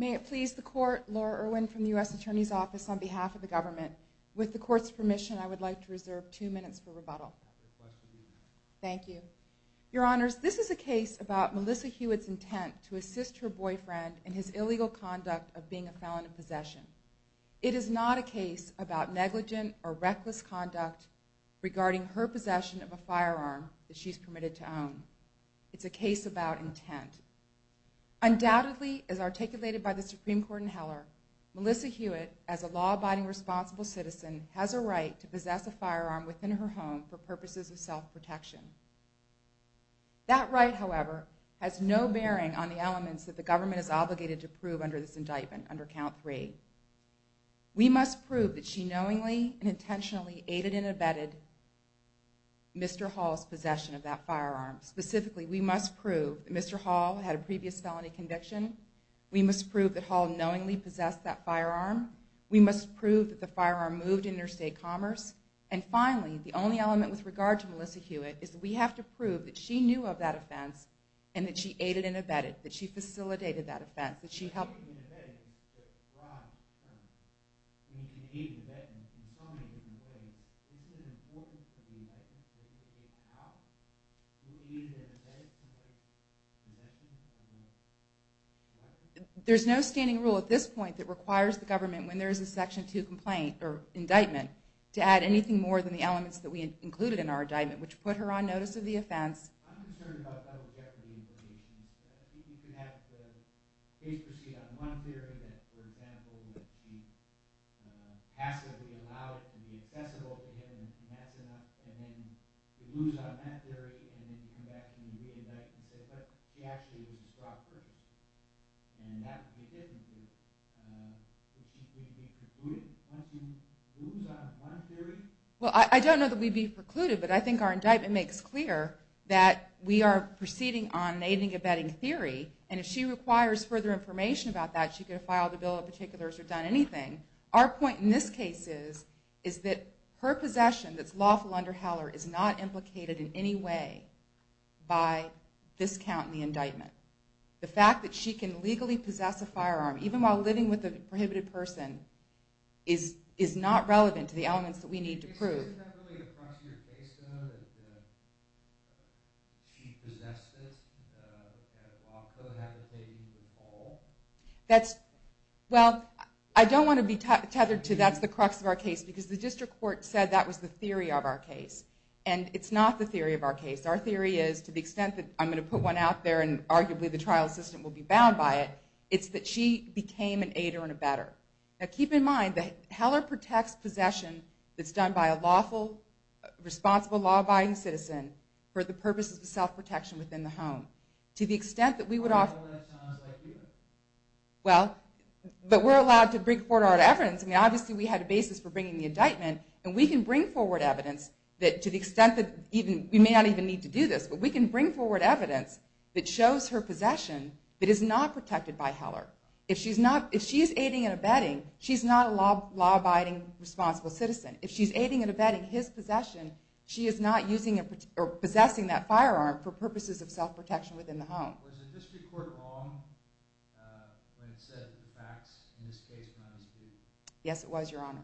May it please the Court, Laura Irwin from the U.S. Attorney's Office on behalf of the Government. With the Court's permission, I would like to reserve two minutes for rebuttal. Thank you. Your Honors, this is a case about Melissa Huet's intent to assist her boyfriend in his possession. It is not a case about negligent or reckless conduct regarding her possession of a firearm that she is permitted to own. It's a case about intent. Undoubtedly, as articulated by the Supreme Court in Heller, Melissa Huet, as a law-abiding responsible citizen, has a right to possess a firearm within her home for purposes of self-protection. That right, however, has no bearing on the elements that the Government is obligated to prove under this indictment, under Count 3. We must prove that she knowingly and intentionally aided and abetted Mr. Hall's possession of that firearm. Specifically, we must prove that Mr. Hall had a previous felony conviction. We must prove that Hall knowingly possessed that firearm. We must prove that the firearm moved interstate commerce. And finally, the only element with regard to Melissa Huet is that we have to prove that she knew of that offense and that she aided and abetted, that she facilitated that offense, that she helped... There's no standing rule at this point that requires the Government, when there is a Section 2 indictment, to add anything more than the elements that we included in our indictment, which put her on notice of the offense. I'm concerned about double jeopardy implications. You can have the case proceed on one theory that, for example, that she passively allowed it to be accessible to him, and that's enough, and then you lose on that theory, and then you come back and you re-indict and say, but she actually was a strong person, and that would be different. Would she be precluded once you lose on one theory? I don't know that we'd be precluded, but I think our indictment makes clear that we are proceeding on an aiding and abetting theory, and if she requires further information about that, she could have filed a bill of particulars or done anything. Our point in this case is that her possession that's lawful under Heller is not implicated in any way by this count in the indictment. The fact that she can legally possess a firearm, even while living with a prohibited person, is not relevant to the elements that we need to prove. Isn't that really the crux of your case, though, that she possessed it? That law code hasn't paid you the ball? Well, I don't want to be tethered to that's the crux of our case, because the district court said that was the theory of our case, and it's not the theory of our case. Our theory is, to the extent that I'm going to put one out there and arguably the trial assistant will be bound by it, it's that she became an aider and abetter. Now, keep in mind that Heller protects possession that's done by a lawful, responsible, law-abiding citizen for the purposes of self-protection within the home. To the extent that we would offer... Well, but we're allowed to bring forward our evidence. I mean, obviously we had a basis for bringing the indictment, and we can bring forward evidence that, to the extent that we may not even need to do this, but we can bring forward evidence that shows her possession that is not protected by Heller. If she's aiding and abetting, she's not a law-abiding, responsible citizen. If she's aiding and abetting his possession, she is not using or possessing that firearm for purposes of self-protection within the home. Was the district court wrong when it said that the facts in this case... Yes, it was, Your Honor.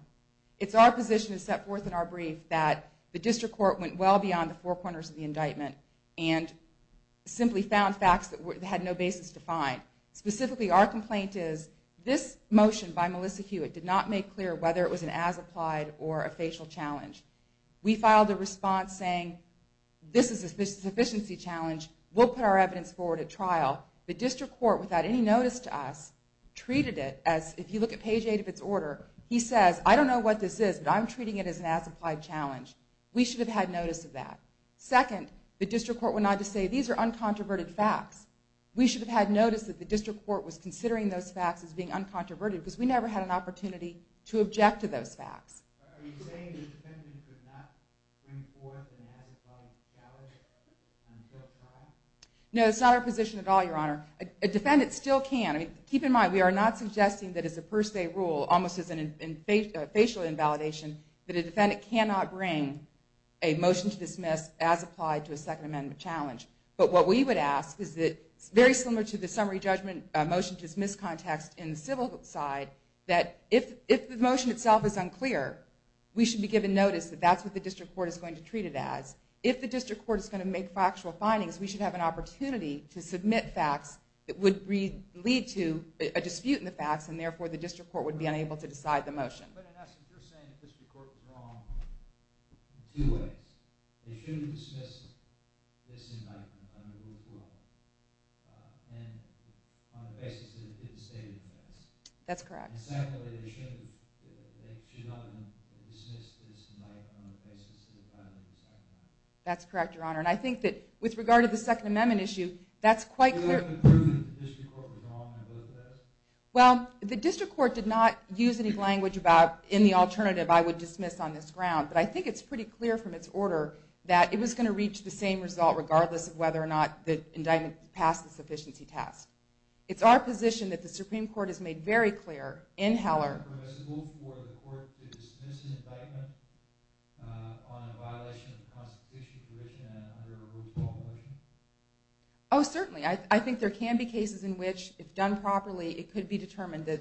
It's our position that's set forth in our brief that the district court went well beyond the four corners of the indictment and simply found facts that had no basis to find. Specifically, our complaint is this motion by Melissa Hewitt did not make clear whether it was an as-applied or a facial challenge. We filed a response saying, this is a sufficiency challenge. We'll put our evidence forward at trial. The district court, without any notice to us, treated it as... If you look at page 8 of its order, he says, I don't know what this is, but I'm treating it as an as-applied challenge. We should have had notice of that. Second, the district court went on to say, these are uncontroverted facts. We should have had notice that the district court was considering those facts as being uncontroverted because we never had an opportunity to object to those facts. Are you saying the defendant could not bring forth an as-applied challenge until trial? No, it's not our position at all, Your Honor. A defendant still can. Keep in mind, we are not suggesting that as a per se rule, almost as a facial invalidation, that a defendant cannot bring a motion to dismiss as applied to a Second Amendment challenge. But what we would ask is that, very similar to the summary judgment motion to dismiss context in the civil side, that if the motion itself is unclear, we should be given notice that that's what the district court is going to treat it as. If the district court is going to make factual findings, we should have an opportunity to submit facts that would lead to a dispute in the facts, and therefore the district court would be unable to decide the motion. But in essence, you're saying the district court was wrong in two ways. They shouldn't dismiss this indictment under Rule 4 and on the basis that it didn't state it best. That's correct. And secondly, they should not have dismissed this indictment on the basis that the defendant decided it best. That's correct, Your Honor. And I think that with regard to the Second Amendment issue, that's quite clear. Do you have any proof that the district court was wrong in both of those? Well, the district court did not use any language about, in the alternative, I would dismiss on this ground. But I think it's pretty clear from its order that it was going to reach the same result, regardless of whether or not the indictment passed the sufficiency test. It's our position that the Supreme Court has made very clear in Heller Oh, certainly. I think there can be cases in which, if done properly, it could be determined that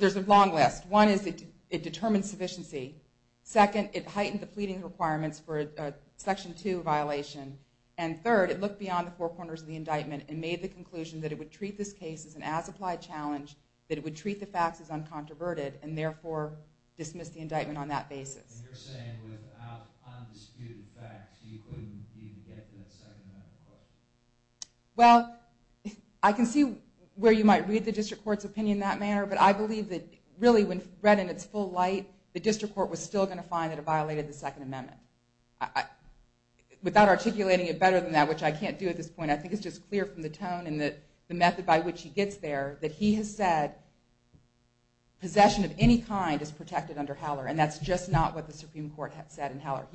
There's a long list. One is it determines sufficiency. Second, it heightened the pleading requirements for a Section 2 violation. And third, it looked beyond the four corners of the indictment and made the conclusion that it would treat this case as an as-applied challenge, that it would treat the facts as uncontroverted, and therefore dismiss the indictment on that basis. And you're saying, without undisputed facts, you couldn't even get to that Second Amendment court? He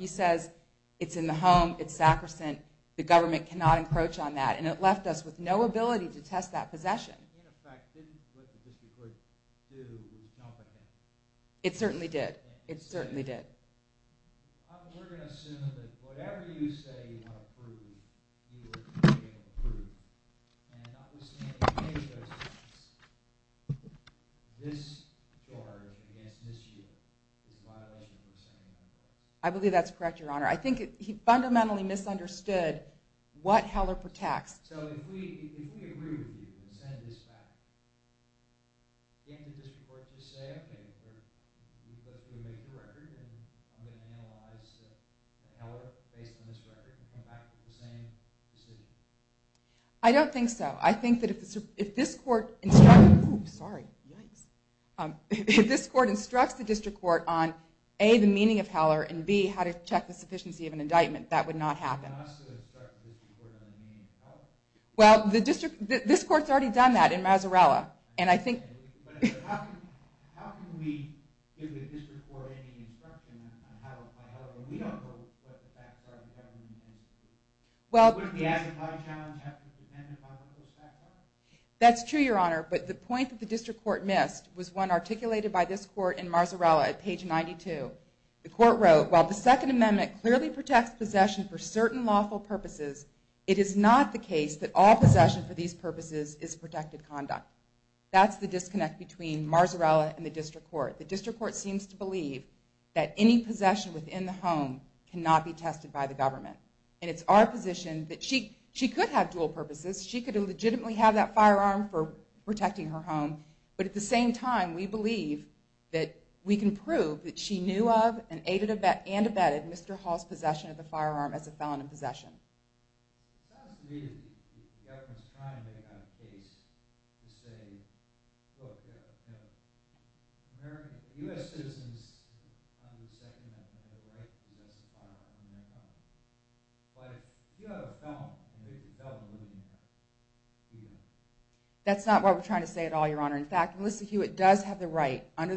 says it's in the home, it's sacrosanct. The government cannot encroach on that. And it left us with no ability to test that possession. It certainly did. It certainly did. I believe that's correct, Your Honor. I think he fundamentally misunderstood what Heller protects. I don't think so. I think that if this court instructs the district court on A, the meaning of Heller, and B, how to check the sufficiency of an indictment, that would not happen. Well, this court's already done that in Mazzarella. And I think... That's true, Your Honor. But the point that the district court missed was one articulated by this court in Mazzarella at page 92. The court wrote, That's the disconnect between Mazzarella and the district court. The district court seems to believe that any possession within the home cannot be tested by the government. And it's our position that she could have dual purposes. She could legitimately have that firearm for protecting her home. But at the same time, we believe that we can prove that she knew of and aided and abetted Mr. Hall's possession of the firearm as a felon in possession. Well, yeah. American... That's not what we're trying to say at all, Your Honor. In fact, Melissa Hewitt does have the right, under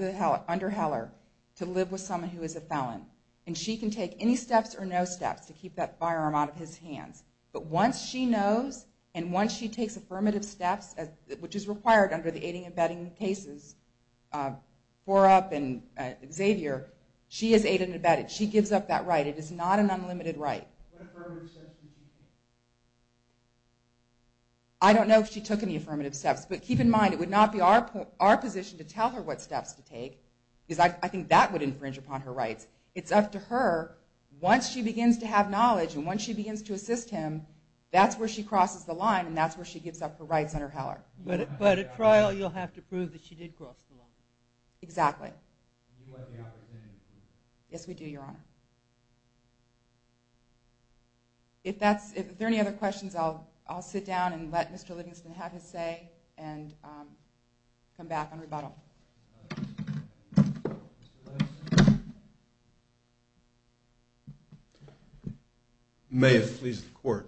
Heller, to live with someone who is a felon. And she can take any steps or no steps to keep that firearm out of his hands. But once she knows, and once she takes affirmative steps, which is required under the aiding and abetting cases, Forup and Xavier, she is aided and abetted. She gives up that right. It is not an unlimited right. What affirmative steps would she take? I don't know if she took any affirmative steps. But keep in mind, it would not be our position to tell her what steps to take, because I think that would infringe upon her rights. It's up to her. Once she begins to have knowledge and once she begins to assist him, that's where she crosses the line and that's where she gives up her rights under Heller. But at trial, you'll have to prove that she did cross the line. Exactly. Do you want the opportunity? Yes, we do, Your Honor. If there are any other questions, I'll sit down and let Mr. Livingston have his say and come back on rebuttal. May it please the Court.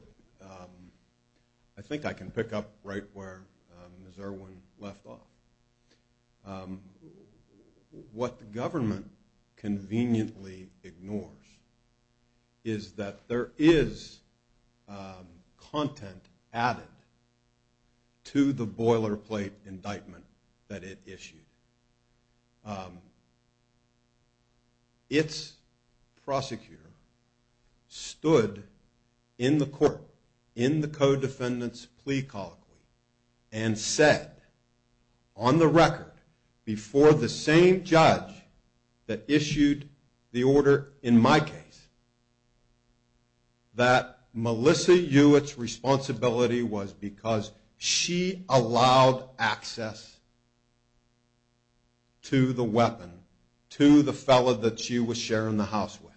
I think I can pick up right where Ms. Irwin left off. What the government conveniently ignores is that there is content added to the boilerplate indictment that it issued. Its prosecutor stood in the court, in the co-defendant's plea colloquy, and said, on the record, before the same judge that issued the order in my case, that Melissa Hewitt's responsibility was because she allowed access to the weapon, to the fellow that she was sharing the house with.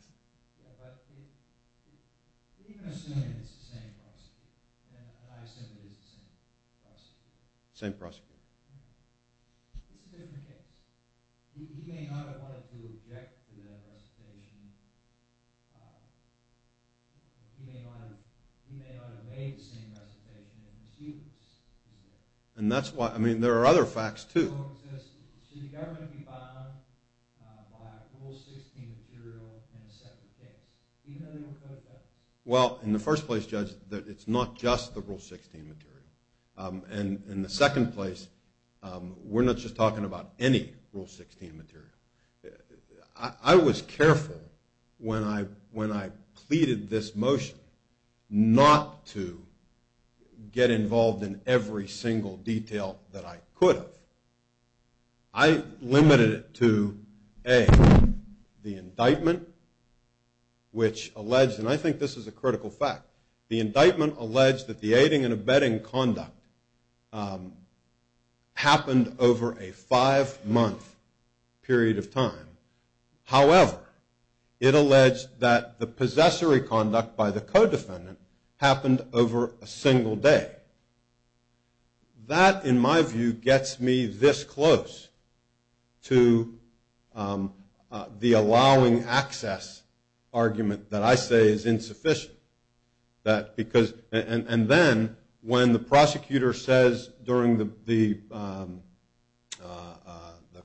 Same prosecutor. And that's why, I mean, there are other facts, too. Well, in the first place, Judge, it's not just the Rule 16 material. And in the second place, we're not just talking about any Rule 16 material. I was careful when I pleaded this motion not to get involved in every single detail that I could have. I limited it to, A, the indictment, which alleged, and I think this is a critical fact, the indictment alleged that the aiding and abetting conduct happened over a five-month period of time. However, it alleged that the possessory conduct by the co-defendant happened over a single day. That, in my view, gets me this close to the allowing access argument that I say is insufficient. And then, when the prosecutor says, during the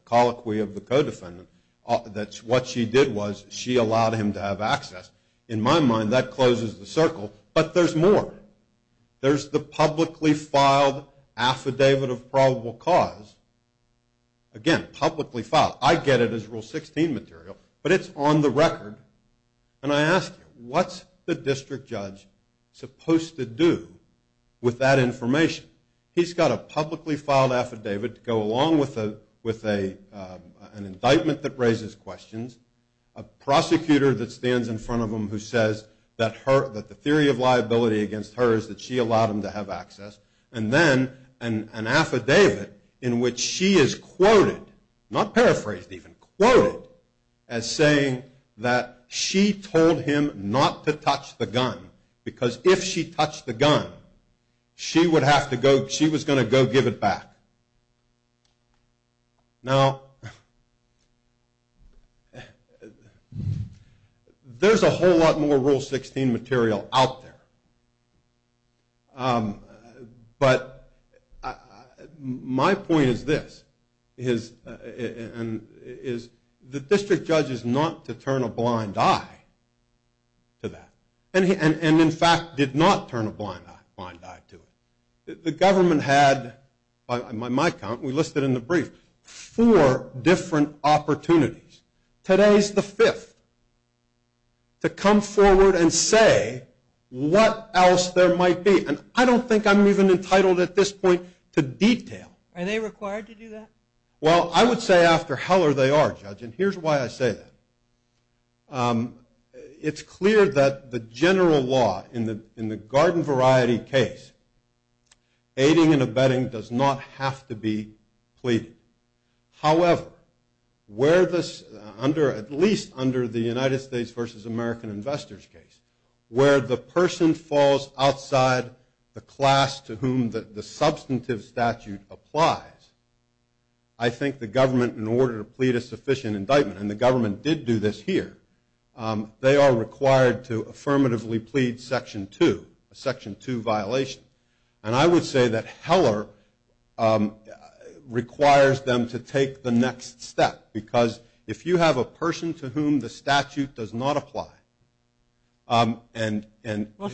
colloquy of the co-defendant, that what she did was she allowed him to have access, in my mind, that closes the circle. But there's more. There's the publicly filed affidavit of probable cause. Again, publicly filed. I get it as Rule 16 material, but it's on the record. And I ask you, what's the district judge supposed to do with that information? He's got a publicly filed affidavit to go along with an indictment that raises questions, a prosecutor that stands in front of him who says that the theory of liability against her is that she allowed him to have access, and then an affidavit in which she is quoted, not paraphrased even, quoted, as saying that she told him not to touch the gun because if she touched the gun, she was going to go give it back. Now, there's a whole lot more Rule 16 material out there. But my point is this, is the district judge is not to turn a blind eye to that, and in fact did not turn a blind eye to it. The government had, by my count, we listed in the brief, four different opportunities. Today's the fifth to come forward and say what else there might be. And I don't think I'm even entitled at this point to detail. Are they required to do that? Well, I would say after Heller they are, Judge, and here's why I say that. It's clear that the general law in the garden variety case, aiding and abetting does not have to be pleaded. However, where this, under, at least under the United States versus American investors case, where the person falls outside the class to whom the substantive statute applies, I think the government, in order to plead a sufficient indictment, and the government did do this here, they are required to affirmatively plead Section 2, a Section 2 violation. And I would say that Heller requires them to take the next step, because if you have a person to whom the statute does not apply, and who engages in. Well,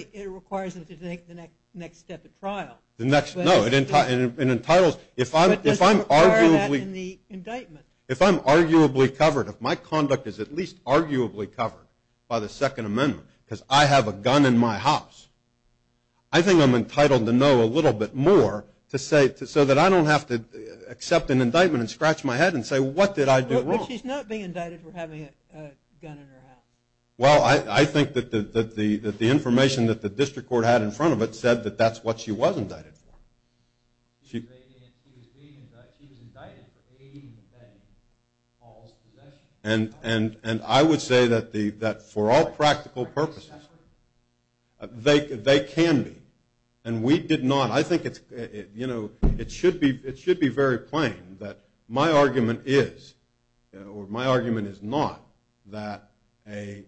certainly it requires them to take the next step at trial. No, it entitles, if I'm arguably. In the indictment. If I'm arguably covered, if my conduct is at least arguably covered by the Second Amendment, because I have a gun in my house, I think I'm entitled to know a little bit more so that I don't have to accept an indictment and scratch my head and say what did I do wrong. But she's not being indicted for having a gun in her house. Well, I think that the information that the district court had in front of it said that that's what she was indicted for. She was being indicted for aiding and abetting false possession. And I would say that for all practical purposes, they can be. And we did not. I think it should be very plain that my argument is, or my argument is not that a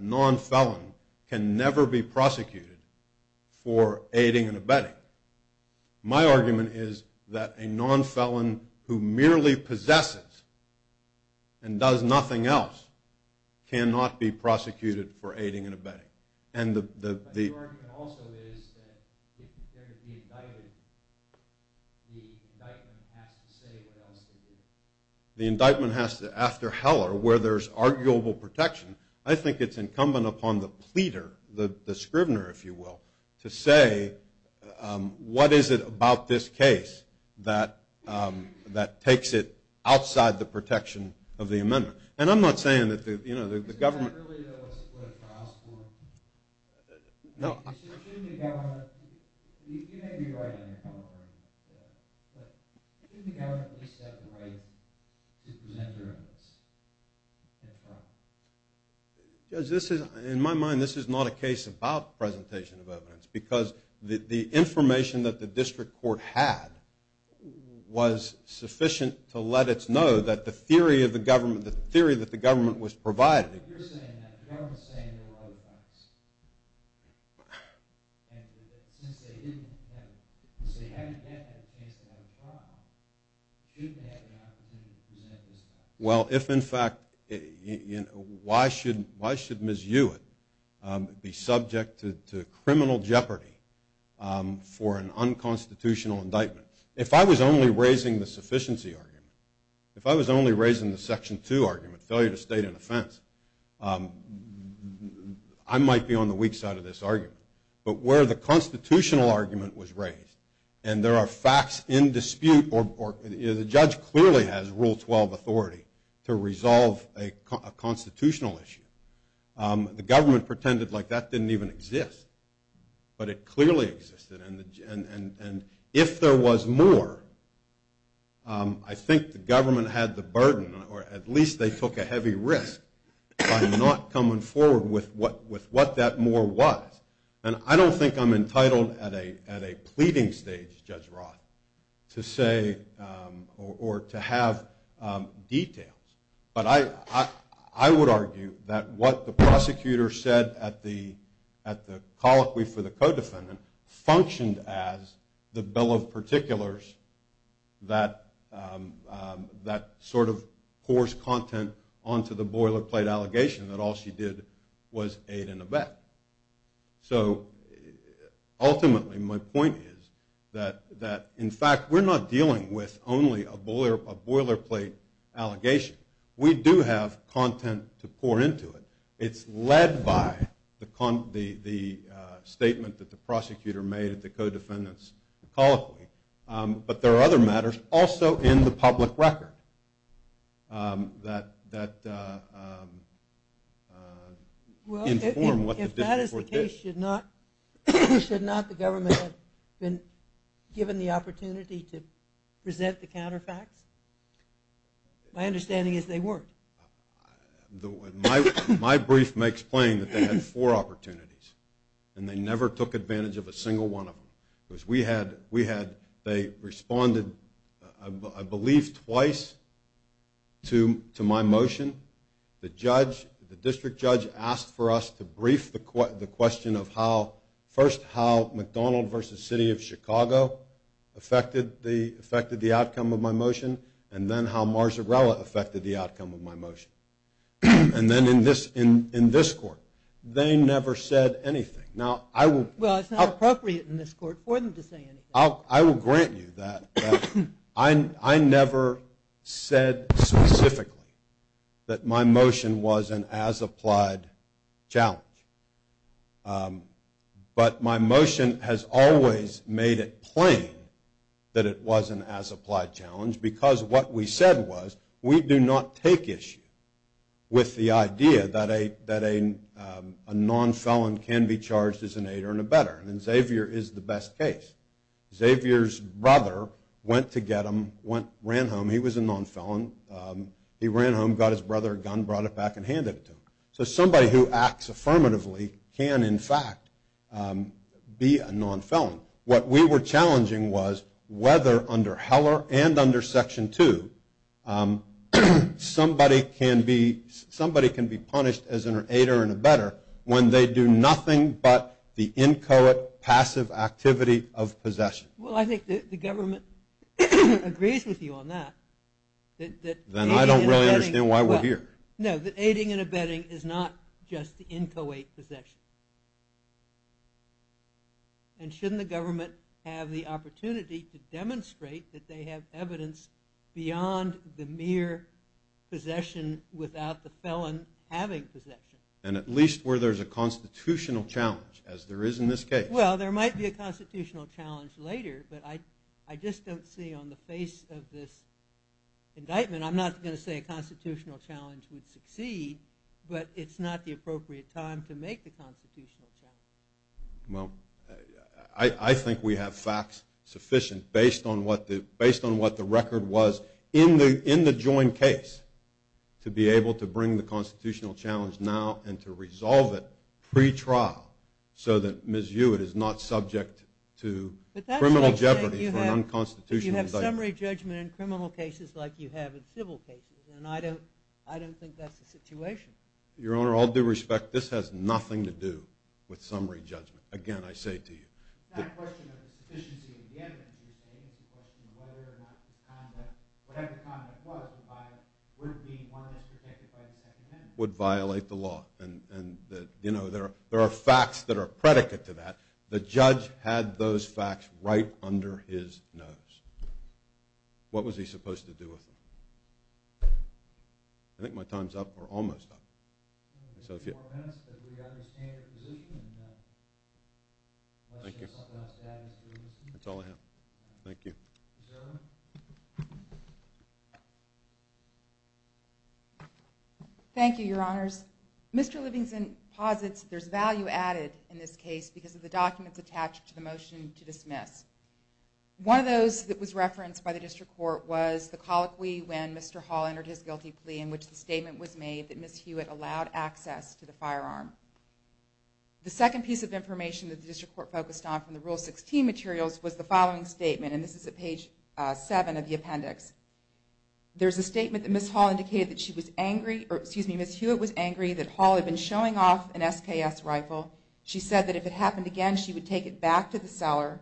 non-felon can never be prosecuted for aiding and abetting. My argument is that a non-felon who merely possesses and does nothing else cannot be prosecuted for aiding and abetting. And the… But your argument also is that if there is the indictment, the indictment has to say what else to do. The indictment has to, after Heller, where there's arguable protection, I think it's incumbent upon the pleader, the scrivener, if you will, to say what is it about this case that takes it outside the protection of the amendment. And I'm not saying that the government… No. Judge, this is, in my mind, this is not a case about presentation of evidence because the information that the district court had was sufficient to let us know that the theory of the government, the theory that the government was providing… I'm just saying there were other facts. And since they didn't have… Since they haven't yet had a chance to have a trial, shouldn't they have the opportunity to present this trial? Well, if, in fact, why should Ms. Hewitt be subject to criminal jeopardy for an unconstitutional indictment? If I was only raising the sufficiency argument, if I was only raising the Section 2 argument, failure to state an offense, I might be on the weak side of this argument. But where the constitutional argument was raised, and there are facts in dispute or the judge clearly has Rule 12 authority to resolve a constitutional issue. The government pretended like that didn't even exist, but it clearly existed. And if there was more, I think the government had the burden or at least they took a heavy risk by not coming forward with what that more was. And I don't think I'm entitled at a pleading stage, Judge Roth, to say or to have details. But I would argue that what the prosecutor said at the colloquy for the co-defendant functioned as the bill of particulars that sort of pours content onto the boilerplate allegation that all she did was aid and abet. So, ultimately, my point is that, in fact, we're not dealing with only a boilerplate allegation. We do have content to pour into it. It's led by the statement that the prosecutor made at the co-defendant's colloquy. But there are other matters also in the public record that inform what the digital court did. Well, if that is the case, should not the government have been given the opportunity to present the counterfacts? My understanding is they weren't. My brief makes plain that they had four opportunities, and they never took advantage of a single one of them. They responded, I believe, twice to my motion. The district judge asked for us to brief the question of, first, how McDonald v. City of Chicago affected the outcome of my motion, and then how Marzarella affected the outcome of my motion. And then, in this court, they never said anything. Now, I will – Well, it's not appropriate in this court for them to say anything. I will grant you that. I never said specifically that my motion was an as-applied challenge. But my motion has always made it plain that it was an as-applied challenge because what we said was we do not take issue with the idea that a non-felon can be charged as an aider and a better, and Xavier is the best case. Xavier's brother went to get him, ran home. He was a non-felon. He ran home, got his brother a gun, brought it back, and handed it to him. So somebody who acts affirmatively can, in fact, be a non-felon. What we were challenging was whether, under Heller and under Section 2, somebody can be punished as an aider and a better when they do nothing but the inchoate, passive activity of possession. Well, I think the government agrees with you on that. Then I don't really understand why we're here. No, the aiding and abetting is not just the inchoate possession. And shouldn't the government have the opportunity to demonstrate that they have evidence beyond the mere possession without the felon having possession? And at least where there's a constitutional challenge, as there is in this case. Well, there might be a constitutional challenge later, but I just don't see on the face of this indictment, I'm not going to say a constitutional challenge would succeed, but it's not the appropriate time to make the constitutional challenge. Well, I think we have facts sufficient based on what the record was in the joint case to be able to bring the constitutional challenge now and to resolve it pre-trial so that Ms. Hewitt is not subject to criminal jeopardy for an unconstitutional indictment. But that's like saying you have summary judgment in criminal cases like you have in civil cases, and I don't think that's the situation. Your Honor, all due respect, this has nothing to do with summary judgment. Again, I say it to you. It's not a question of the sufficiency of the evidence you're stating. It's a question of whether or not the conduct, whatever the conduct was, would be one that is protected by the Second Amendment. Would violate the law. And there are facts that are predicate to that. The judge had those facts right under his nose. What was he supposed to do with them? I think my time's up or almost up. We have four minutes, but we understand your position. Thank you. That's all I have. Thank you. Thank you, Your Honors. Mr. Livingston posits there's value added in this case because of the documents attached to the motion to dismiss. One of those that was referenced by the district court was the colloquy when Mr. Hall entered his guilty plea in which the statement was made that Ms. Hewitt allowed access to the firearm. The second piece of information that the district court focused on from the Rule 16 materials was the following statement, and this is at page 7 of the appendix. There's a statement that Ms. Hall indicated that she was angry, or excuse me, Ms. Hewitt was angry that Hall had been showing off an SPS rifle. She said that if it happened again, she would take it back to the seller.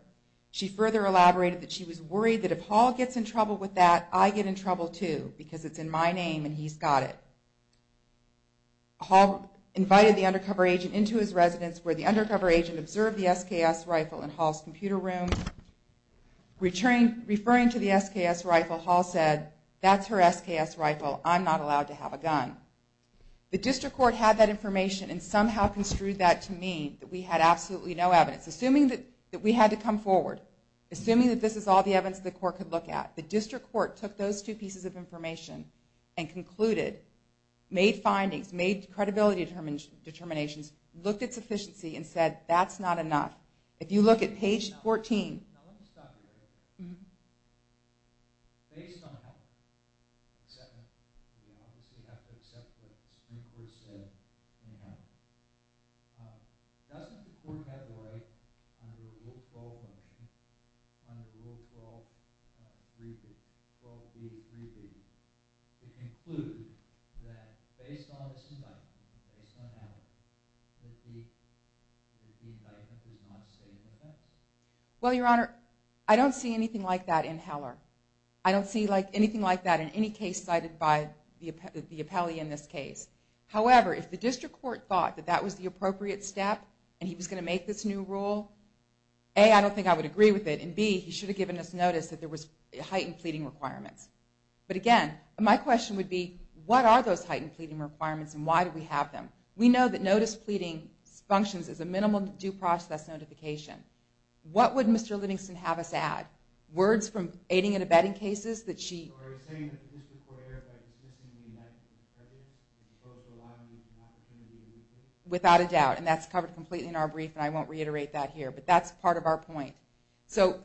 She further elaborated that she was worried that if Hall gets in trouble with that, I get in trouble too because it's in my name and he's got it. Hall invited the undercover agent into his residence where the undercover agent observed the SPS rifle in Hall's computer room. Referring to the SPS rifle, Hall said, that's her SPS rifle, I'm not allowed to have a gun. The district court had that information and somehow construed that to mean that we had absolutely no evidence. Assuming that we had to come forward, assuming that this is all the evidence the court could look at, the district court took those two pieces of information and concluded, made findings, made credibility determinations, looked at sufficiency and said that's not enough. If you look at page 14... ...doesn't the court have a right under Rule 12... Well, Your Honor, I don't see anything like that in Heller. I don't see anything like that in any case cited by the appellee in this case. However, if the district court thought that that was the appropriate step and he was going to make this new rule, A, I don't think I would agree with it, and B, he should have given us notice that there was heightened pleading requirements. But again, my question would be, what are those heightened pleading requirements and why do we have them? We know that notice pleading functions as a minimal due process notification. What would Mr. Livingston have us add? Words from aiding and abetting cases that she... ...without a doubt. And that's covered completely in our brief, and I won't reiterate that here. But that's part of our point. So,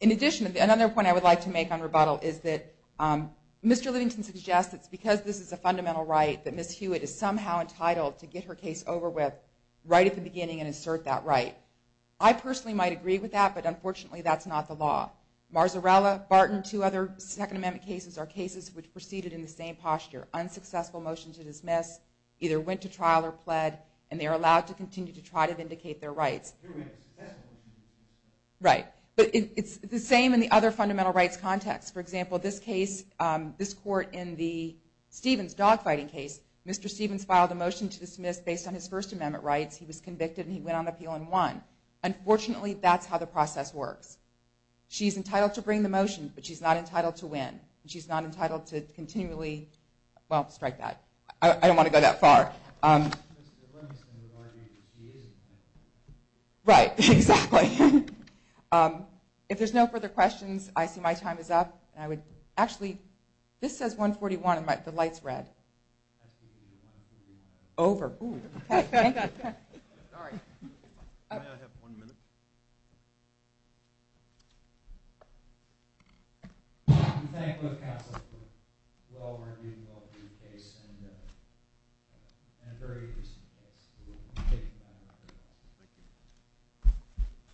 in addition, another point I would like to make on rebuttal is that Mr. Livingston suggests that because this is a fundamental right that Ms. Hewitt is somehow entitled to get her case over with right at the beginning and assert that right. I personally might agree with that, but unfortunately that's not the law. Marzarella, Barton, two other Second Amendment cases are cases which proceeded in the same posture. Unsuccessful motion to dismiss, either went to trial or pled, and they are allowed to continue to try to vindicate their rights. Right. But it's the same in the other fundamental rights context. For example, this case, this court in the Stevens dogfighting case, Mr. Stevens filed a motion to dismiss based on his First Amendment rights. He was convicted and he went on appeal and won. Unfortunately, that's how the process works. She's entitled to bring the motion, but she's not entitled to win. She's not entitled to continually, well, strike that. I don't want to go that far. Mr. Livingston would argue that she is entitled. Right, exactly. If there's no further questions, I see my time is up. Actually, this says 141 and the light's red. That's because you're 141. Over. All right. May I have one minute? Thank you, counsel, for a well-argued and well-written case and a very interesting case. We'll take it down. Thank you.